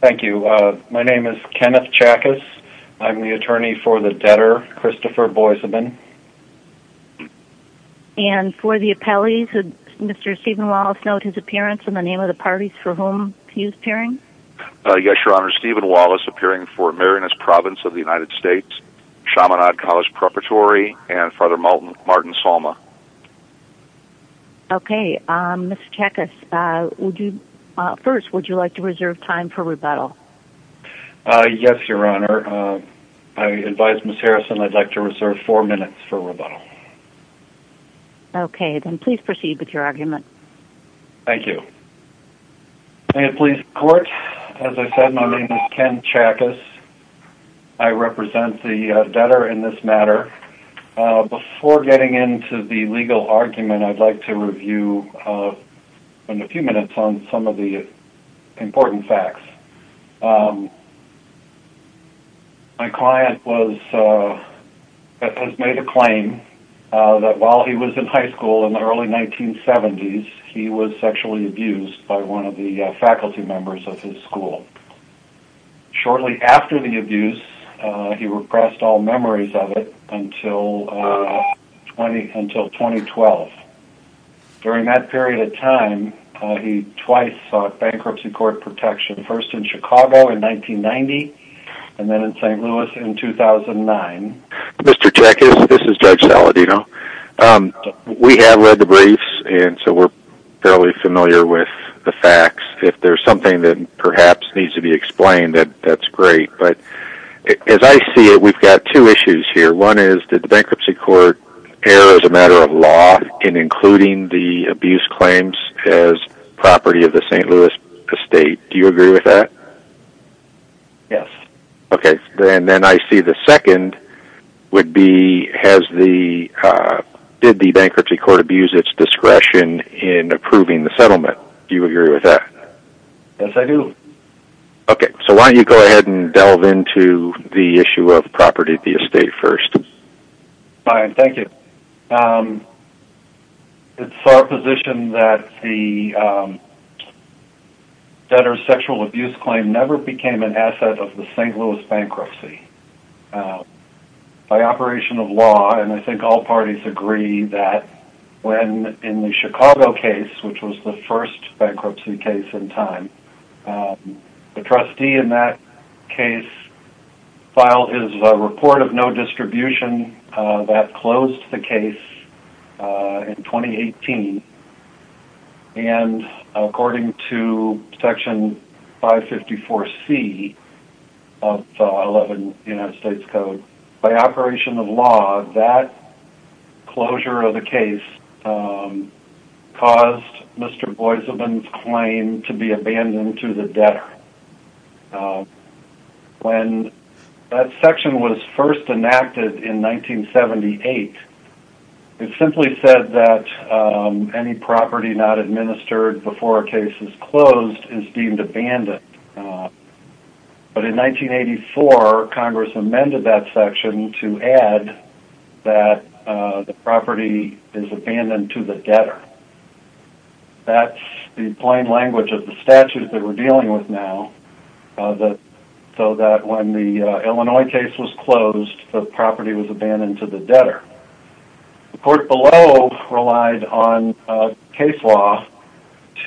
Thank you. My name is Kenneth Chackas. I'm the attorney for the debtor Christopher Boisaubin. And for the appellees, would Mr. Stephen Wallace note his appearance in the name of the parties for whom he is appearing? Yes, Your Honor. Stephen Wallace appearing for Marianist Province of the United States, Chaminade College Preparatory, and Father Martin Salma. Okay. Mr. Chackas, first, would you like to reserve time for rebuttal? Yes, Your Honor. I advise Ms. Harrison I'd like to reserve four minutes for rebuttal. Okay. Then please proceed with your argument. Thank you. May it please the court, as I said, my name is Ken Chackas. I represent the debtor in this matter. Before getting into the legal argument, I'd like to review in a few minutes on some of the important facts. My client has made a claim that while he was in high school in the early 1970s, he was sexually abused by one of the faculty members of his school. Shortly after the abuse, he repressed all memories of it until 2012. During that period of time, he twice sought bankruptcy court protection, first in Chicago in 1990, and then in St. Louis in 2009. Mr. Chackas, this is Judge Saladino. We have read the briefs, and so we're fairly familiar with the facts. If there's something that perhaps needs to be explained, that's great. But as I see it, we've got two issues here. One is, did the bankruptcy court err as a matter of law in including the abuse claims as property of the St. Louis estate? Do you agree with that? Yes. Then I see the second would be, did the bankruptcy court abuse its discretion in approving the settlement? Do you agree with that? Yes, I do. So why don't you go ahead and delve into the issue of property of the estate first? Fine. Thank you. It's our position that the debtor's sexual abuse claim never became an asset of the St. Louis bankruptcy. By operation of law, and I think all parties agree that when in the Chicago case, which was the first bankruptcy case in time, the trustee in that case filed a report of no distribution that closed the case in 2018. And according to Section 554C of the 11th United States Code, by operation of law, that closure of the case caused Mr. Boiseman's claim to be abandoned to the debtor. When that section was first enacted in 1978, it simply said that any property not to add that the property is abandoned to the debtor. That's the plain language of the statute that we're dealing with now, so that when the Illinois case was closed, the property was abandoned to the debtor. The court below relied on case law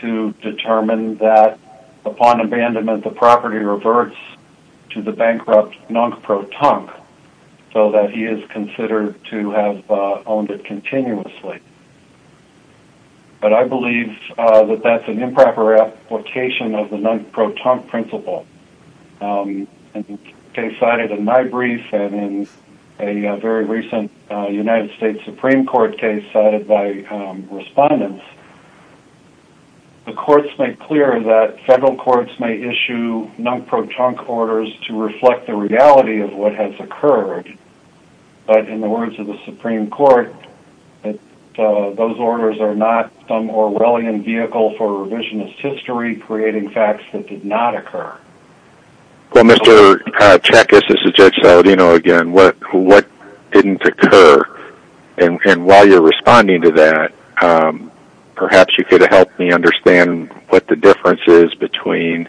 to determine that upon abandonment, the property reverts to the bankrupt non-protonque, so that he is considered to have owned it continuously. But I believe that that's an improper application of the non-protonque principle. In the case cited in my brief, and in a very recent United States Supreme Court case by respondents, the courts make clear that federal courts may issue non-protonque orders to reflect the reality of what has occurred. But in the words of the Supreme Court, those orders are not some Orwellian vehicle for revisionist history, creating facts that did not come to pass. Perhaps you could help me understand what the difference is between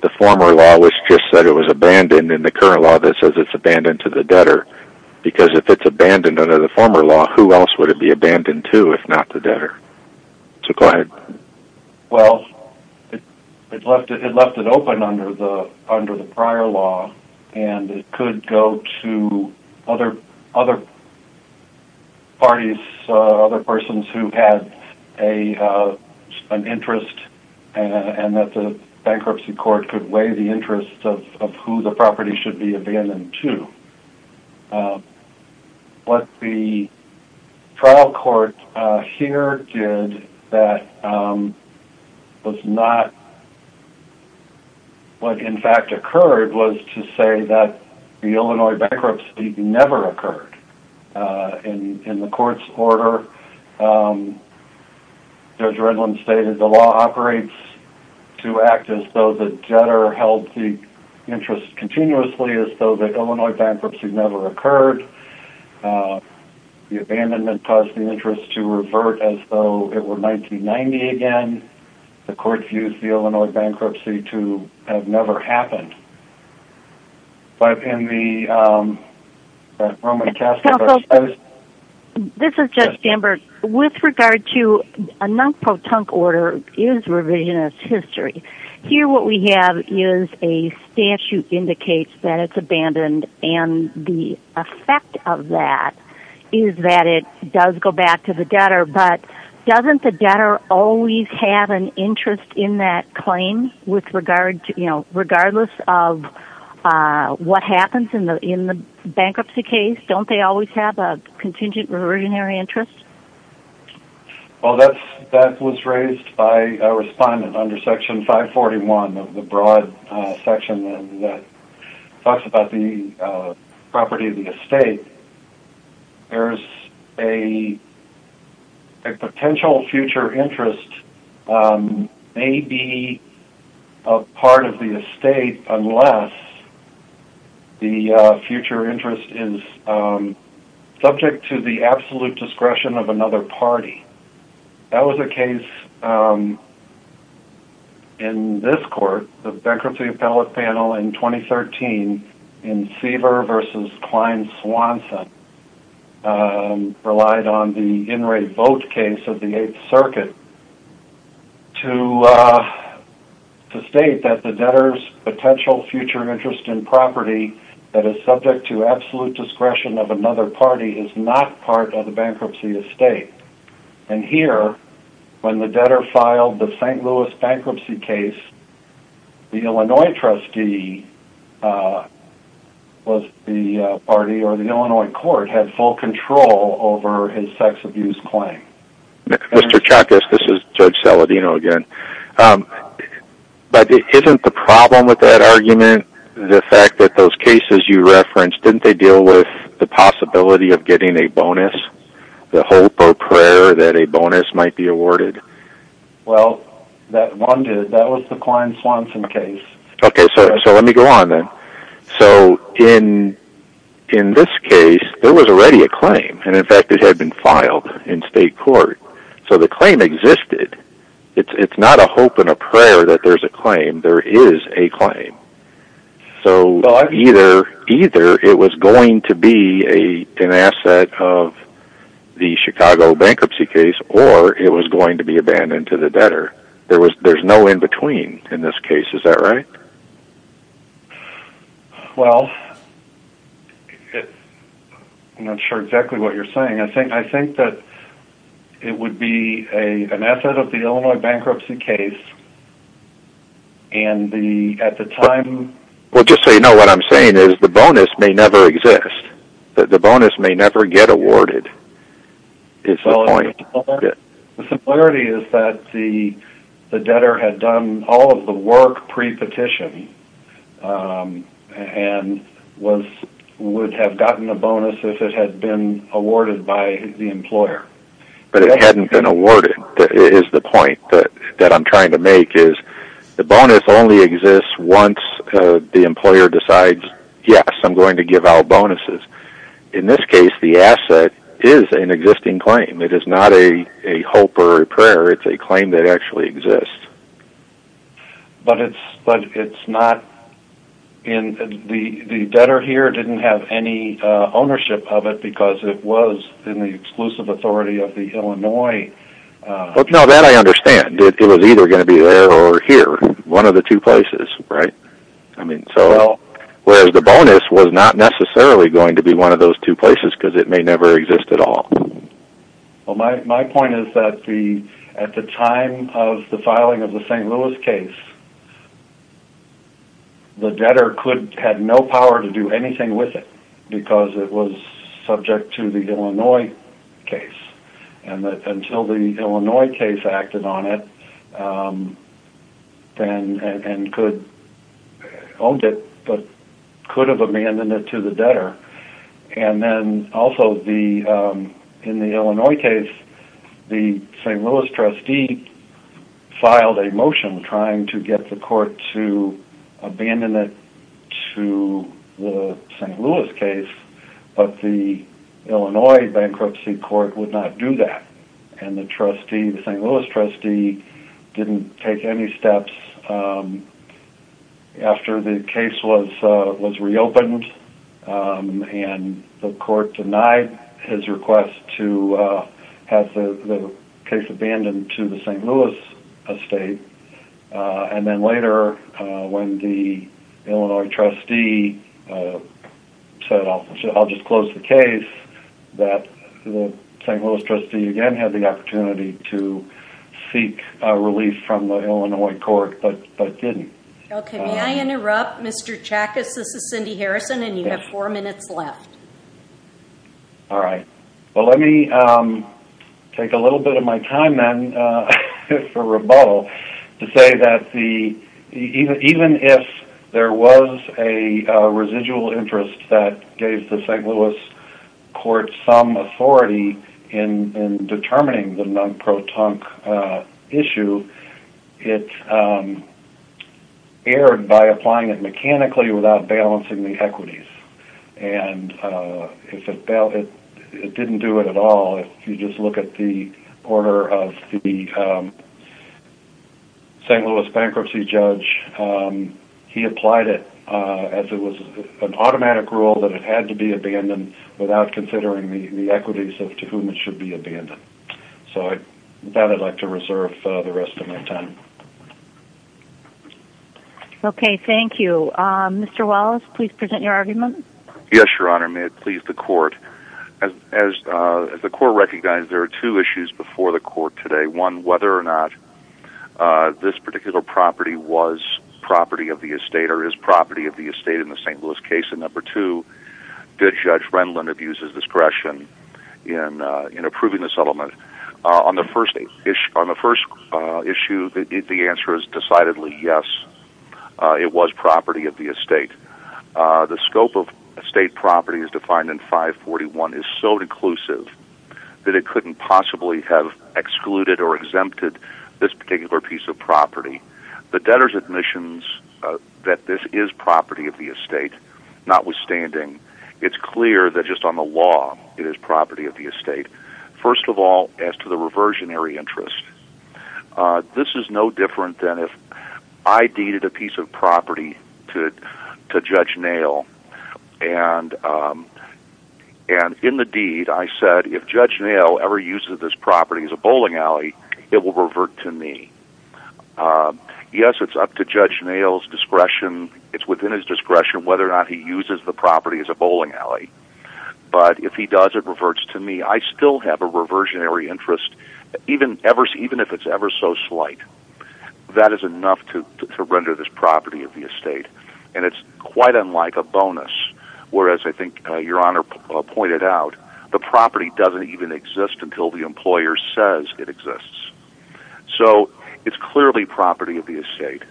the former law, which just said it was abandoned, and the current law that says it's abandoned to the debtor. Because if it's abandoned under the former law, who else would it be abandoned to, if not the debtor? Well, it left it open under the prior law, and it could go to other parties who had an interest, and that the bankruptcy court could weigh the interest of who the property should be abandoned to. What the trial court here did that was not what in fact occurred was to say the Illinois bankruptcy never occurred. In the court's order, Judge Redlin stated the law operates to act as though the debtor held the interest continuously as though the Illinois bankruptcy never occurred. The abandonment caused the interest to revert as though it were 1990 again. The court views the Illinois bankruptcy to have never happened. But in the Roman Catholic... This is Judge Stamberg. With regard to a non-protunct order is revisionist history. Here what we have is a statute indicates that it's abandoned, and the effect of that is that it does go back to the debtor. But doesn't the debtor always have an interest in that claim regardless of what happens in the bankruptcy case? Don't they always have a contingent or originary interest? Well, that was raised by a respondent under section 541 of the broad section that talks about the property of the estate. There's a potential future interest may be a part of the estate unless the future interest is subject to the absolute discretion of another party. That was a case in this court, the bankruptcy appellate panel in 2013 in Seaver v. Klein Swanson relied on the in-rate vote case of the 8th Circuit to state that the debtor's potential future interest in property that is subject to absolute discretion of another party is not part of the bankruptcy estate. And here, when the debtor filed the St. Louis bankruptcy case, the Illinois trustee was the party or the Illinois court had full control over his sex abuse claim. Mr. Chuckas, this is Judge Saladino again. But isn't the problem with that argument the fact that those cases you referenced, didn't they deal with the possibility of getting a bonus, the hope or prayer that a bonus might be awarded? Well, that one did. That was the Klein Swanson case. Okay, so let me go on then. So in this case, there was already a claim. And in fact, it had been filed in state court. So the claim existed. It's not a hope and a prayer that there's a claim. There is a claim. So either it was going to be an asset of the Chicago bankruptcy case, or it was going to be abandoned to the debtor. There's no in-between in this case. Is that right? Well, I'm not sure exactly what you're saying. I think that it would be an asset of the Illinois bankruptcy case. And the at the time... Well, just so you know, what I'm saying is the bonus may never exist. The bonus may never get awarded. It's the point. The similarity is that the debtor had done all of the work pre-petition and would have gotten a bonus if it had been awarded by the employer. But it hadn't been awarded. That is the point that I'm trying to make is the bonus only exists once the employer decides, yes, I'm going to give out bonuses. In this case, the asset is an existing claim. It is not a hope or a prayer. It's a claim that actually exists. The debtor here didn't have any ownership of it because it was in the exclusive authority of the Illinois... No, that I understand. It was either going to be there or here, one of the two places. Whereas the bonus was not necessarily going to be one of those two places because it may never exist at all. My point is that at the time of the filing of the St. Louis case, the debtor had no power to do anything with it because it was subject to the Illinois case. Until the Illinois case acted on it and could... Owned it, but could have abandoned it to the also the... In the Illinois case, the St. Louis trustee filed a motion trying to get the court to abandon it to the St. Louis case, but the Illinois bankruptcy court would not do that. And the trustee, the St. Louis trustee didn't take any steps after the case was reopened and the court denied his request to have the case abandoned to the St. Louis estate. And then later when the Illinois trustee said, I'll just close the case, that the St. Louis trustee again had the opportunity to seek relief from the Illinois court, but didn't. Okay. May I interrupt Mr. Chackas? This is Cindy Harrison and you have four minutes left. All right. Well, let me take a little bit of my time then for rebuttal to say that even if there was a residual interest that gave the St. Louis court some authority in determining the error by applying it mechanically without balancing the equities. And if it didn't do it at all, if you just look at the order of the St. Louis bankruptcy judge, he applied it as it was an automatic rule that it had to be abandoned without considering the equities of to whom it should be abandoned. So that I'd like to reserve the rest of my time. Okay. Thank you. Mr. Wallace, please present your argument. Yes, Your Honor. May it please the court. As the court recognized, there are two issues before the court today. One, whether or not this particular property was property of the estate or is property of the estate in the St. Louis case. And number two, did Judge Renlund abuse his discretion in approving the settlement? On the first issue, the answer is decidedly yes. It was property of the estate. The scope of estate property is defined in 541 is so inclusive that it couldn't possibly have excluded or exempted this particular piece of property. The debtor's admissions that this is property of the estate, not withstanding, it's clear that just on the law, it is property of the estate. First of all, as to the reversionary interest, uh, this is no different than if I deeded a piece of property to Judge Nail. And, um, and in the deed, I said, if Judge Nail ever uses this property as a bowling alley, it will revert to me. Um, yes, it's up to Judge Nail's discretion. It's within his discretion, whether or not he uses the property as a bowling alley. But if he does, it reverts to me. I still have a reversionary interest, even ever, even if it's ever so slight, that is enough to render this property of the estate. And it's quite unlike a bonus. Whereas I think your honor pointed out the property doesn't even exist until the employer says it exists. So it's clearly property of the estate.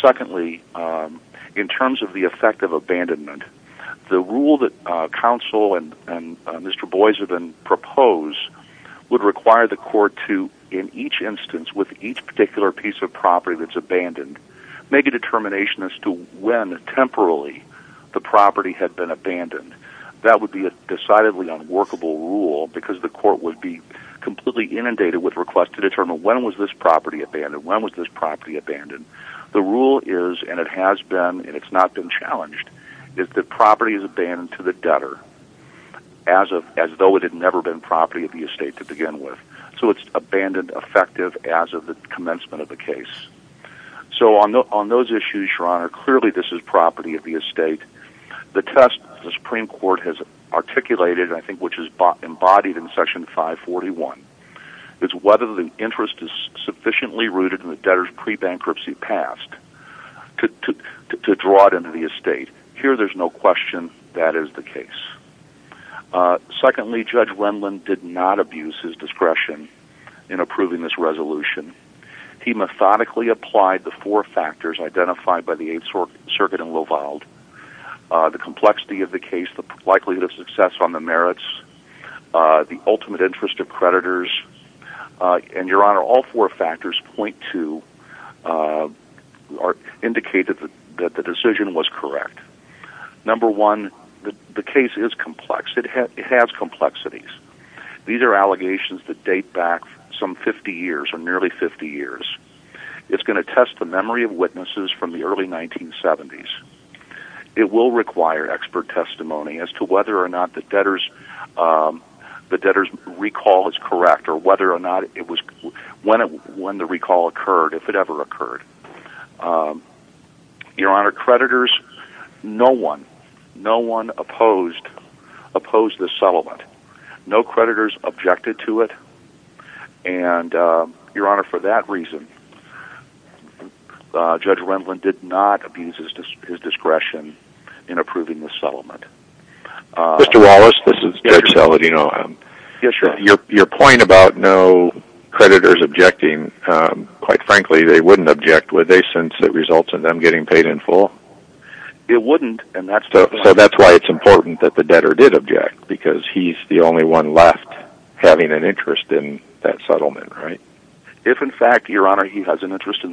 Secondly, um, in terms of the effect of abandonment, the rule that, uh, counsel and, and, uh, Mr. Boisivan propose would require the court to, in each instance with each particular piece of property that's abandoned, make a determination as to when temporarily the property had been abandoned. That would be a decidedly unworkable rule because the court would be completely inundated with requests to determine when was this property abandoned? When was this property abandoned? The rule is, and it has been, and it's not been challenged is that property is abandoned to the debtor as of, as though it had never been property of the estate to begin with. So it's abandoned effective as of the commencement of the case. So on the, on those issues, your honor, clearly this is property of the estate. The test, the Supreme court has articulated, I think, which is bought embodied in section five 41. It's whether the interest is sufficiently rooted in the debtors pre-bankruptcy past to, to, to, to draw it into the estate here. There's no question. That is the case. Uh, secondly, judge Wendland did not abuse his discretion in approving this resolution. He methodically applied the four factors identified by the eight sort circuit and low filed, uh, the complexity of the case, the likelihood of success on the merits, uh, the ultimate interest of creditors, uh, and your honor, all four factors 0.2, uh, are indicated that the decision was correct. Number one, the case is complex. It has complexities. These are allegations that date back some 50 years or nearly 50 years. It's going to test the memory of witnesses from the early 1970s. It will require expert testimony as to whether or not the debtors, um, the debtors recall is correct or whether or not it was when it, when the recall occurred, if it ever occurred, um, your honor creditors, no one, no one opposed, opposed the settlement. No creditors objected to it. And, uh, your honor, for that reason, uh, judge Wendland did not abuse his discretion in approving the settlement. Mr. Wallace, this is judge Saladino. Your point about no creditors objecting, um, quite frankly, they wouldn't object. Would they, since it results in them getting paid in full? It wouldn't. And that's why it's important that the debtor did object because he's the only one left having an interest in that settlement, right? If in fact, your honor, he has an interest in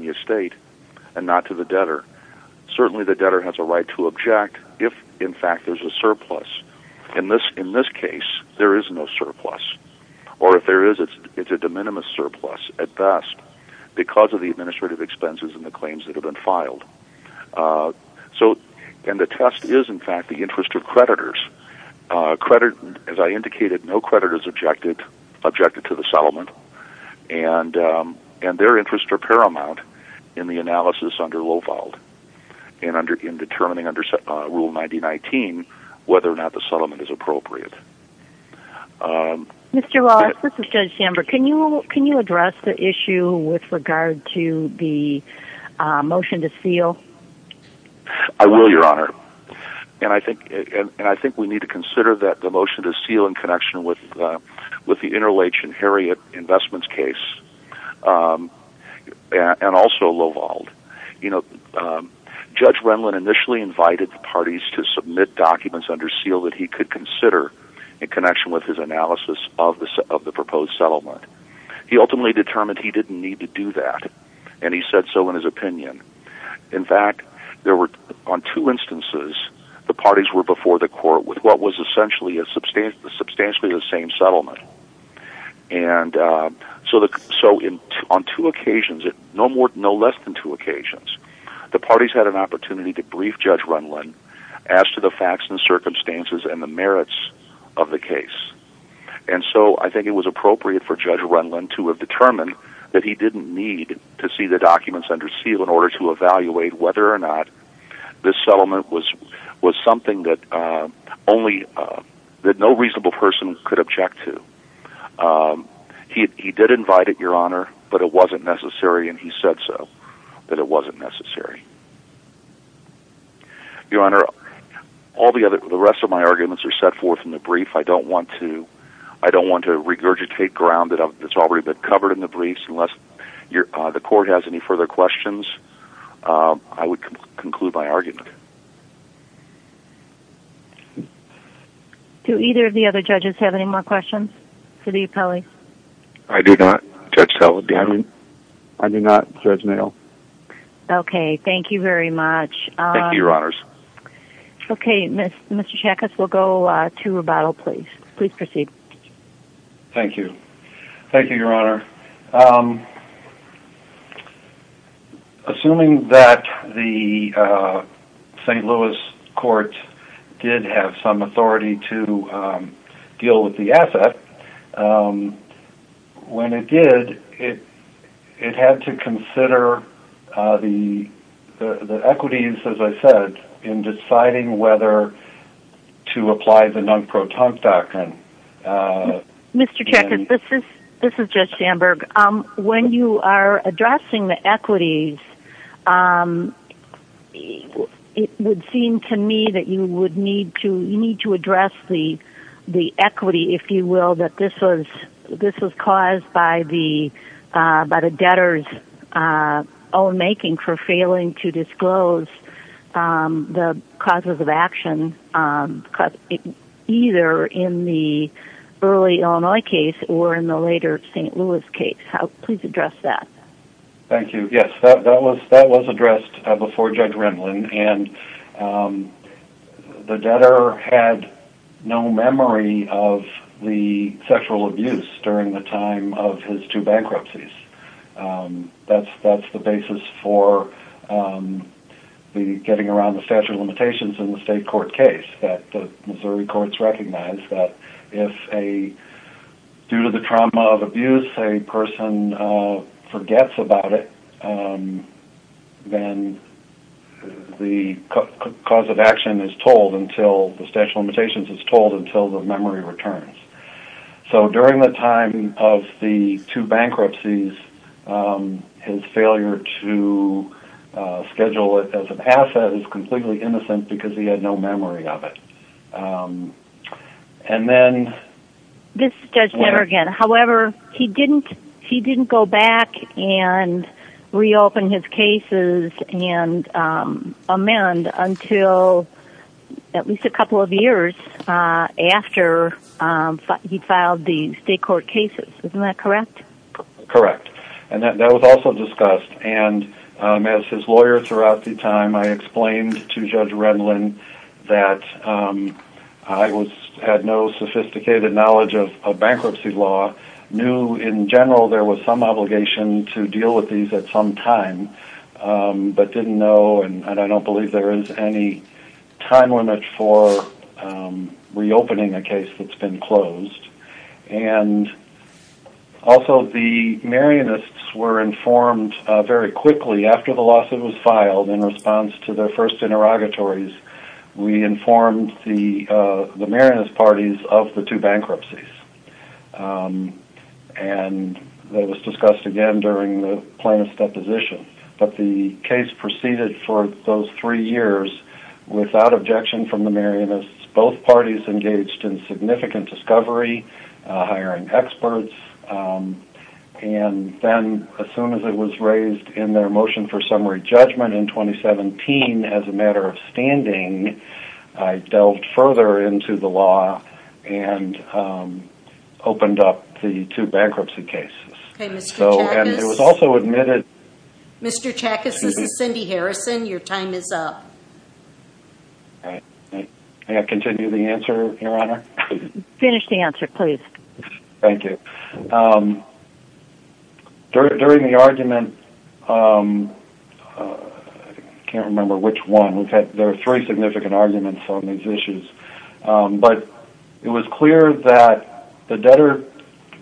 the estate and not to the debtor. Certainly the debtor has a right to object if in fact there's a surplus in this, in this case, there is no surplus or if there is, it's, it's a de minimis surplus at best because of the administrative expenses and the claims that have been filed. Uh, so, and the test is in fact, the interest of creditors, uh, credit, as I indicated, no in the analysis under low filed and under in determining under rule 19, whether or not the settlement is appropriate. Um, Mr. Wallace, this is judge chamber. Can you, can you address the issue with regard to the, uh, motion to seal? I will, your honor. And I think, and I think we need to consider that the motion to seal in connection with, uh, with the interrelation investments case, um, and also low vault, you know, um, judge Renlin initially invited the parties to submit documents under seal that he could consider in connection with his analysis of the, of the proposed settlement. He ultimately determined he didn't need to do that. And he said so in his opinion, in fact, there were on two instances, the parties were before the court with what was essentially a substantial, substantially the same settlement. And, uh, so the, so in, on two occasions, no more, no less than two occasions, the parties had an opportunity to brief judge Renlin as to the facts and circumstances and the merits of the case. And so I think it was appropriate for judge Renlin to have determined that he didn't need to see the documents under seal in order to evaluate whether or not this settlement was, was something that, uh, only, uh, that no reasonable person could object to. Um, he, he did invite it your honor, but it wasn't necessary. And he said so that it wasn't necessary. Your honor, all the other, the rest of my arguments are set forth in the brief. I don't want to, I don't want to regurgitate grounded up. It's already been covered in the briefs unless you're, uh, the court has any further questions. Um, I would conclude by arguing to either of the other judges. Have any more questions for the appellee? I do not judge. I do not judge mail. Okay. Thank you very much. Thank you. Your honors. Okay. Mr. Mr. Jack. Assuming that the, uh, St. Louis court did have some authority to, um, deal with the asset. Um, when it did it, it had to consider, uh, the, the, the equities, as I said, in deciding whether to apply the non-pro time doctrine. Uh, Mr. Jack, this is, this is just Sandberg. Um, when you are addressing the equities, um, it would seem to me that you would need to, you need to address the, the equity, if you will, that this was, this was caused by the, uh, by the debtors, uh, own making for failing to disclose, um, the causes of action, um, either in the early Illinois case or in the later St. Louis case. How, please address that. Thank you. Yes, that, that was, that was addressed before judge Rendlin and, um, the debtor had no memory of the sexual abuse during the time of his two bankruptcies. Um, that's, that's the basis for, um, the getting around the statute of limitations in the state court case that the Missouri courts recognize that if a, due to the trauma of abuse, a person, uh, forgets about it, um, then the cause of action is told until the statute of limitations is told until the memory returns. So during the time of the two bankruptcies, um, his failure to, uh, schedule it as an asset is completely innocent because he had no memory of it. Um, and then this judge never However, he didn't, he didn't go back and reopen his cases and, um, amend until at least a couple of years, uh, after, um, he filed the state court cases. Isn't that correct? Correct. And that was also discussed. And, um, as his lawyer throughout the time, I explained to judge Rendlin that, um, I was, had no sophisticated knowledge of bankruptcy law, knew in general, there was some obligation to deal with these at some time, um, but didn't know. And I don't believe there is any time limit for, um, reopening a case that's been closed. And also the Marianists were informed, uh, very quickly after the lawsuit was filed in response to their first interrogatories, we informed the, uh, the Marianist parties of the two bankruptcies. Um, and that was discussed again during the plaintiff's deposition, but the case proceeded for those three years without objection from the Marianists. Both parties engaged in significant discovery, uh, hiring experts. Um, and then as soon as it was raised in their motion for summary judgment in 2017, as a matter of standing, I delved further into the law and, um, opened up the two bankruptcy cases. Okay, Mr. Chackas. So, and it was also admitted. Mr. Chackas, this is Cindy Harrison. Your time is up. All right. May I continue the answer, Your Honor? Finish the answer, please. Thank you. Um, during the argument, um, uh, I can't remember which one. We've had, there are three significant arguments on these issues. Um, but it was clear that the debtor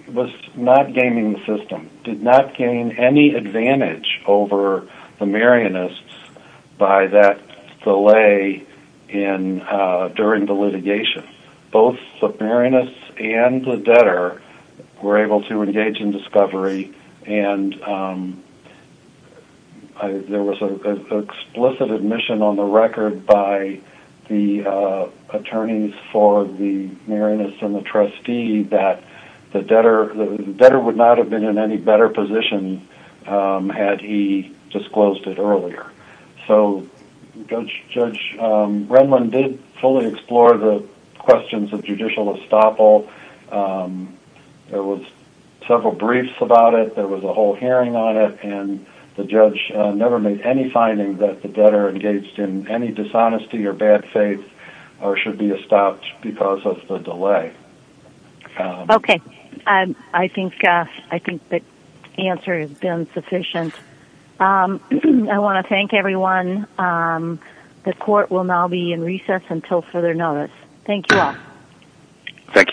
was not gaining the system, did not gain any advantage over the Marianists by that delay in, uh, during the litigation. Both the Marianists and the debtor were able to engage in discovery and, um, I, there was an explicit admission on the record by the, uh, attorneys for the Marianists and the trustee that the debtor, the debtor would not have been in any better position, um, had he disclosed it earlier. So Judge, Judge, um, Renlund did fully explore the several briefs about it. There was a whole hearing on it and the judge never made any finding that the debtor engaged in any dishonesty or bad faith or should be stopped because of the delay. Okay. Um, I think, uh, I think the answer has been sufficient. Um, I want to thank everyone. Um, the court will now be in recess until further notice. Thank you all. Thank you.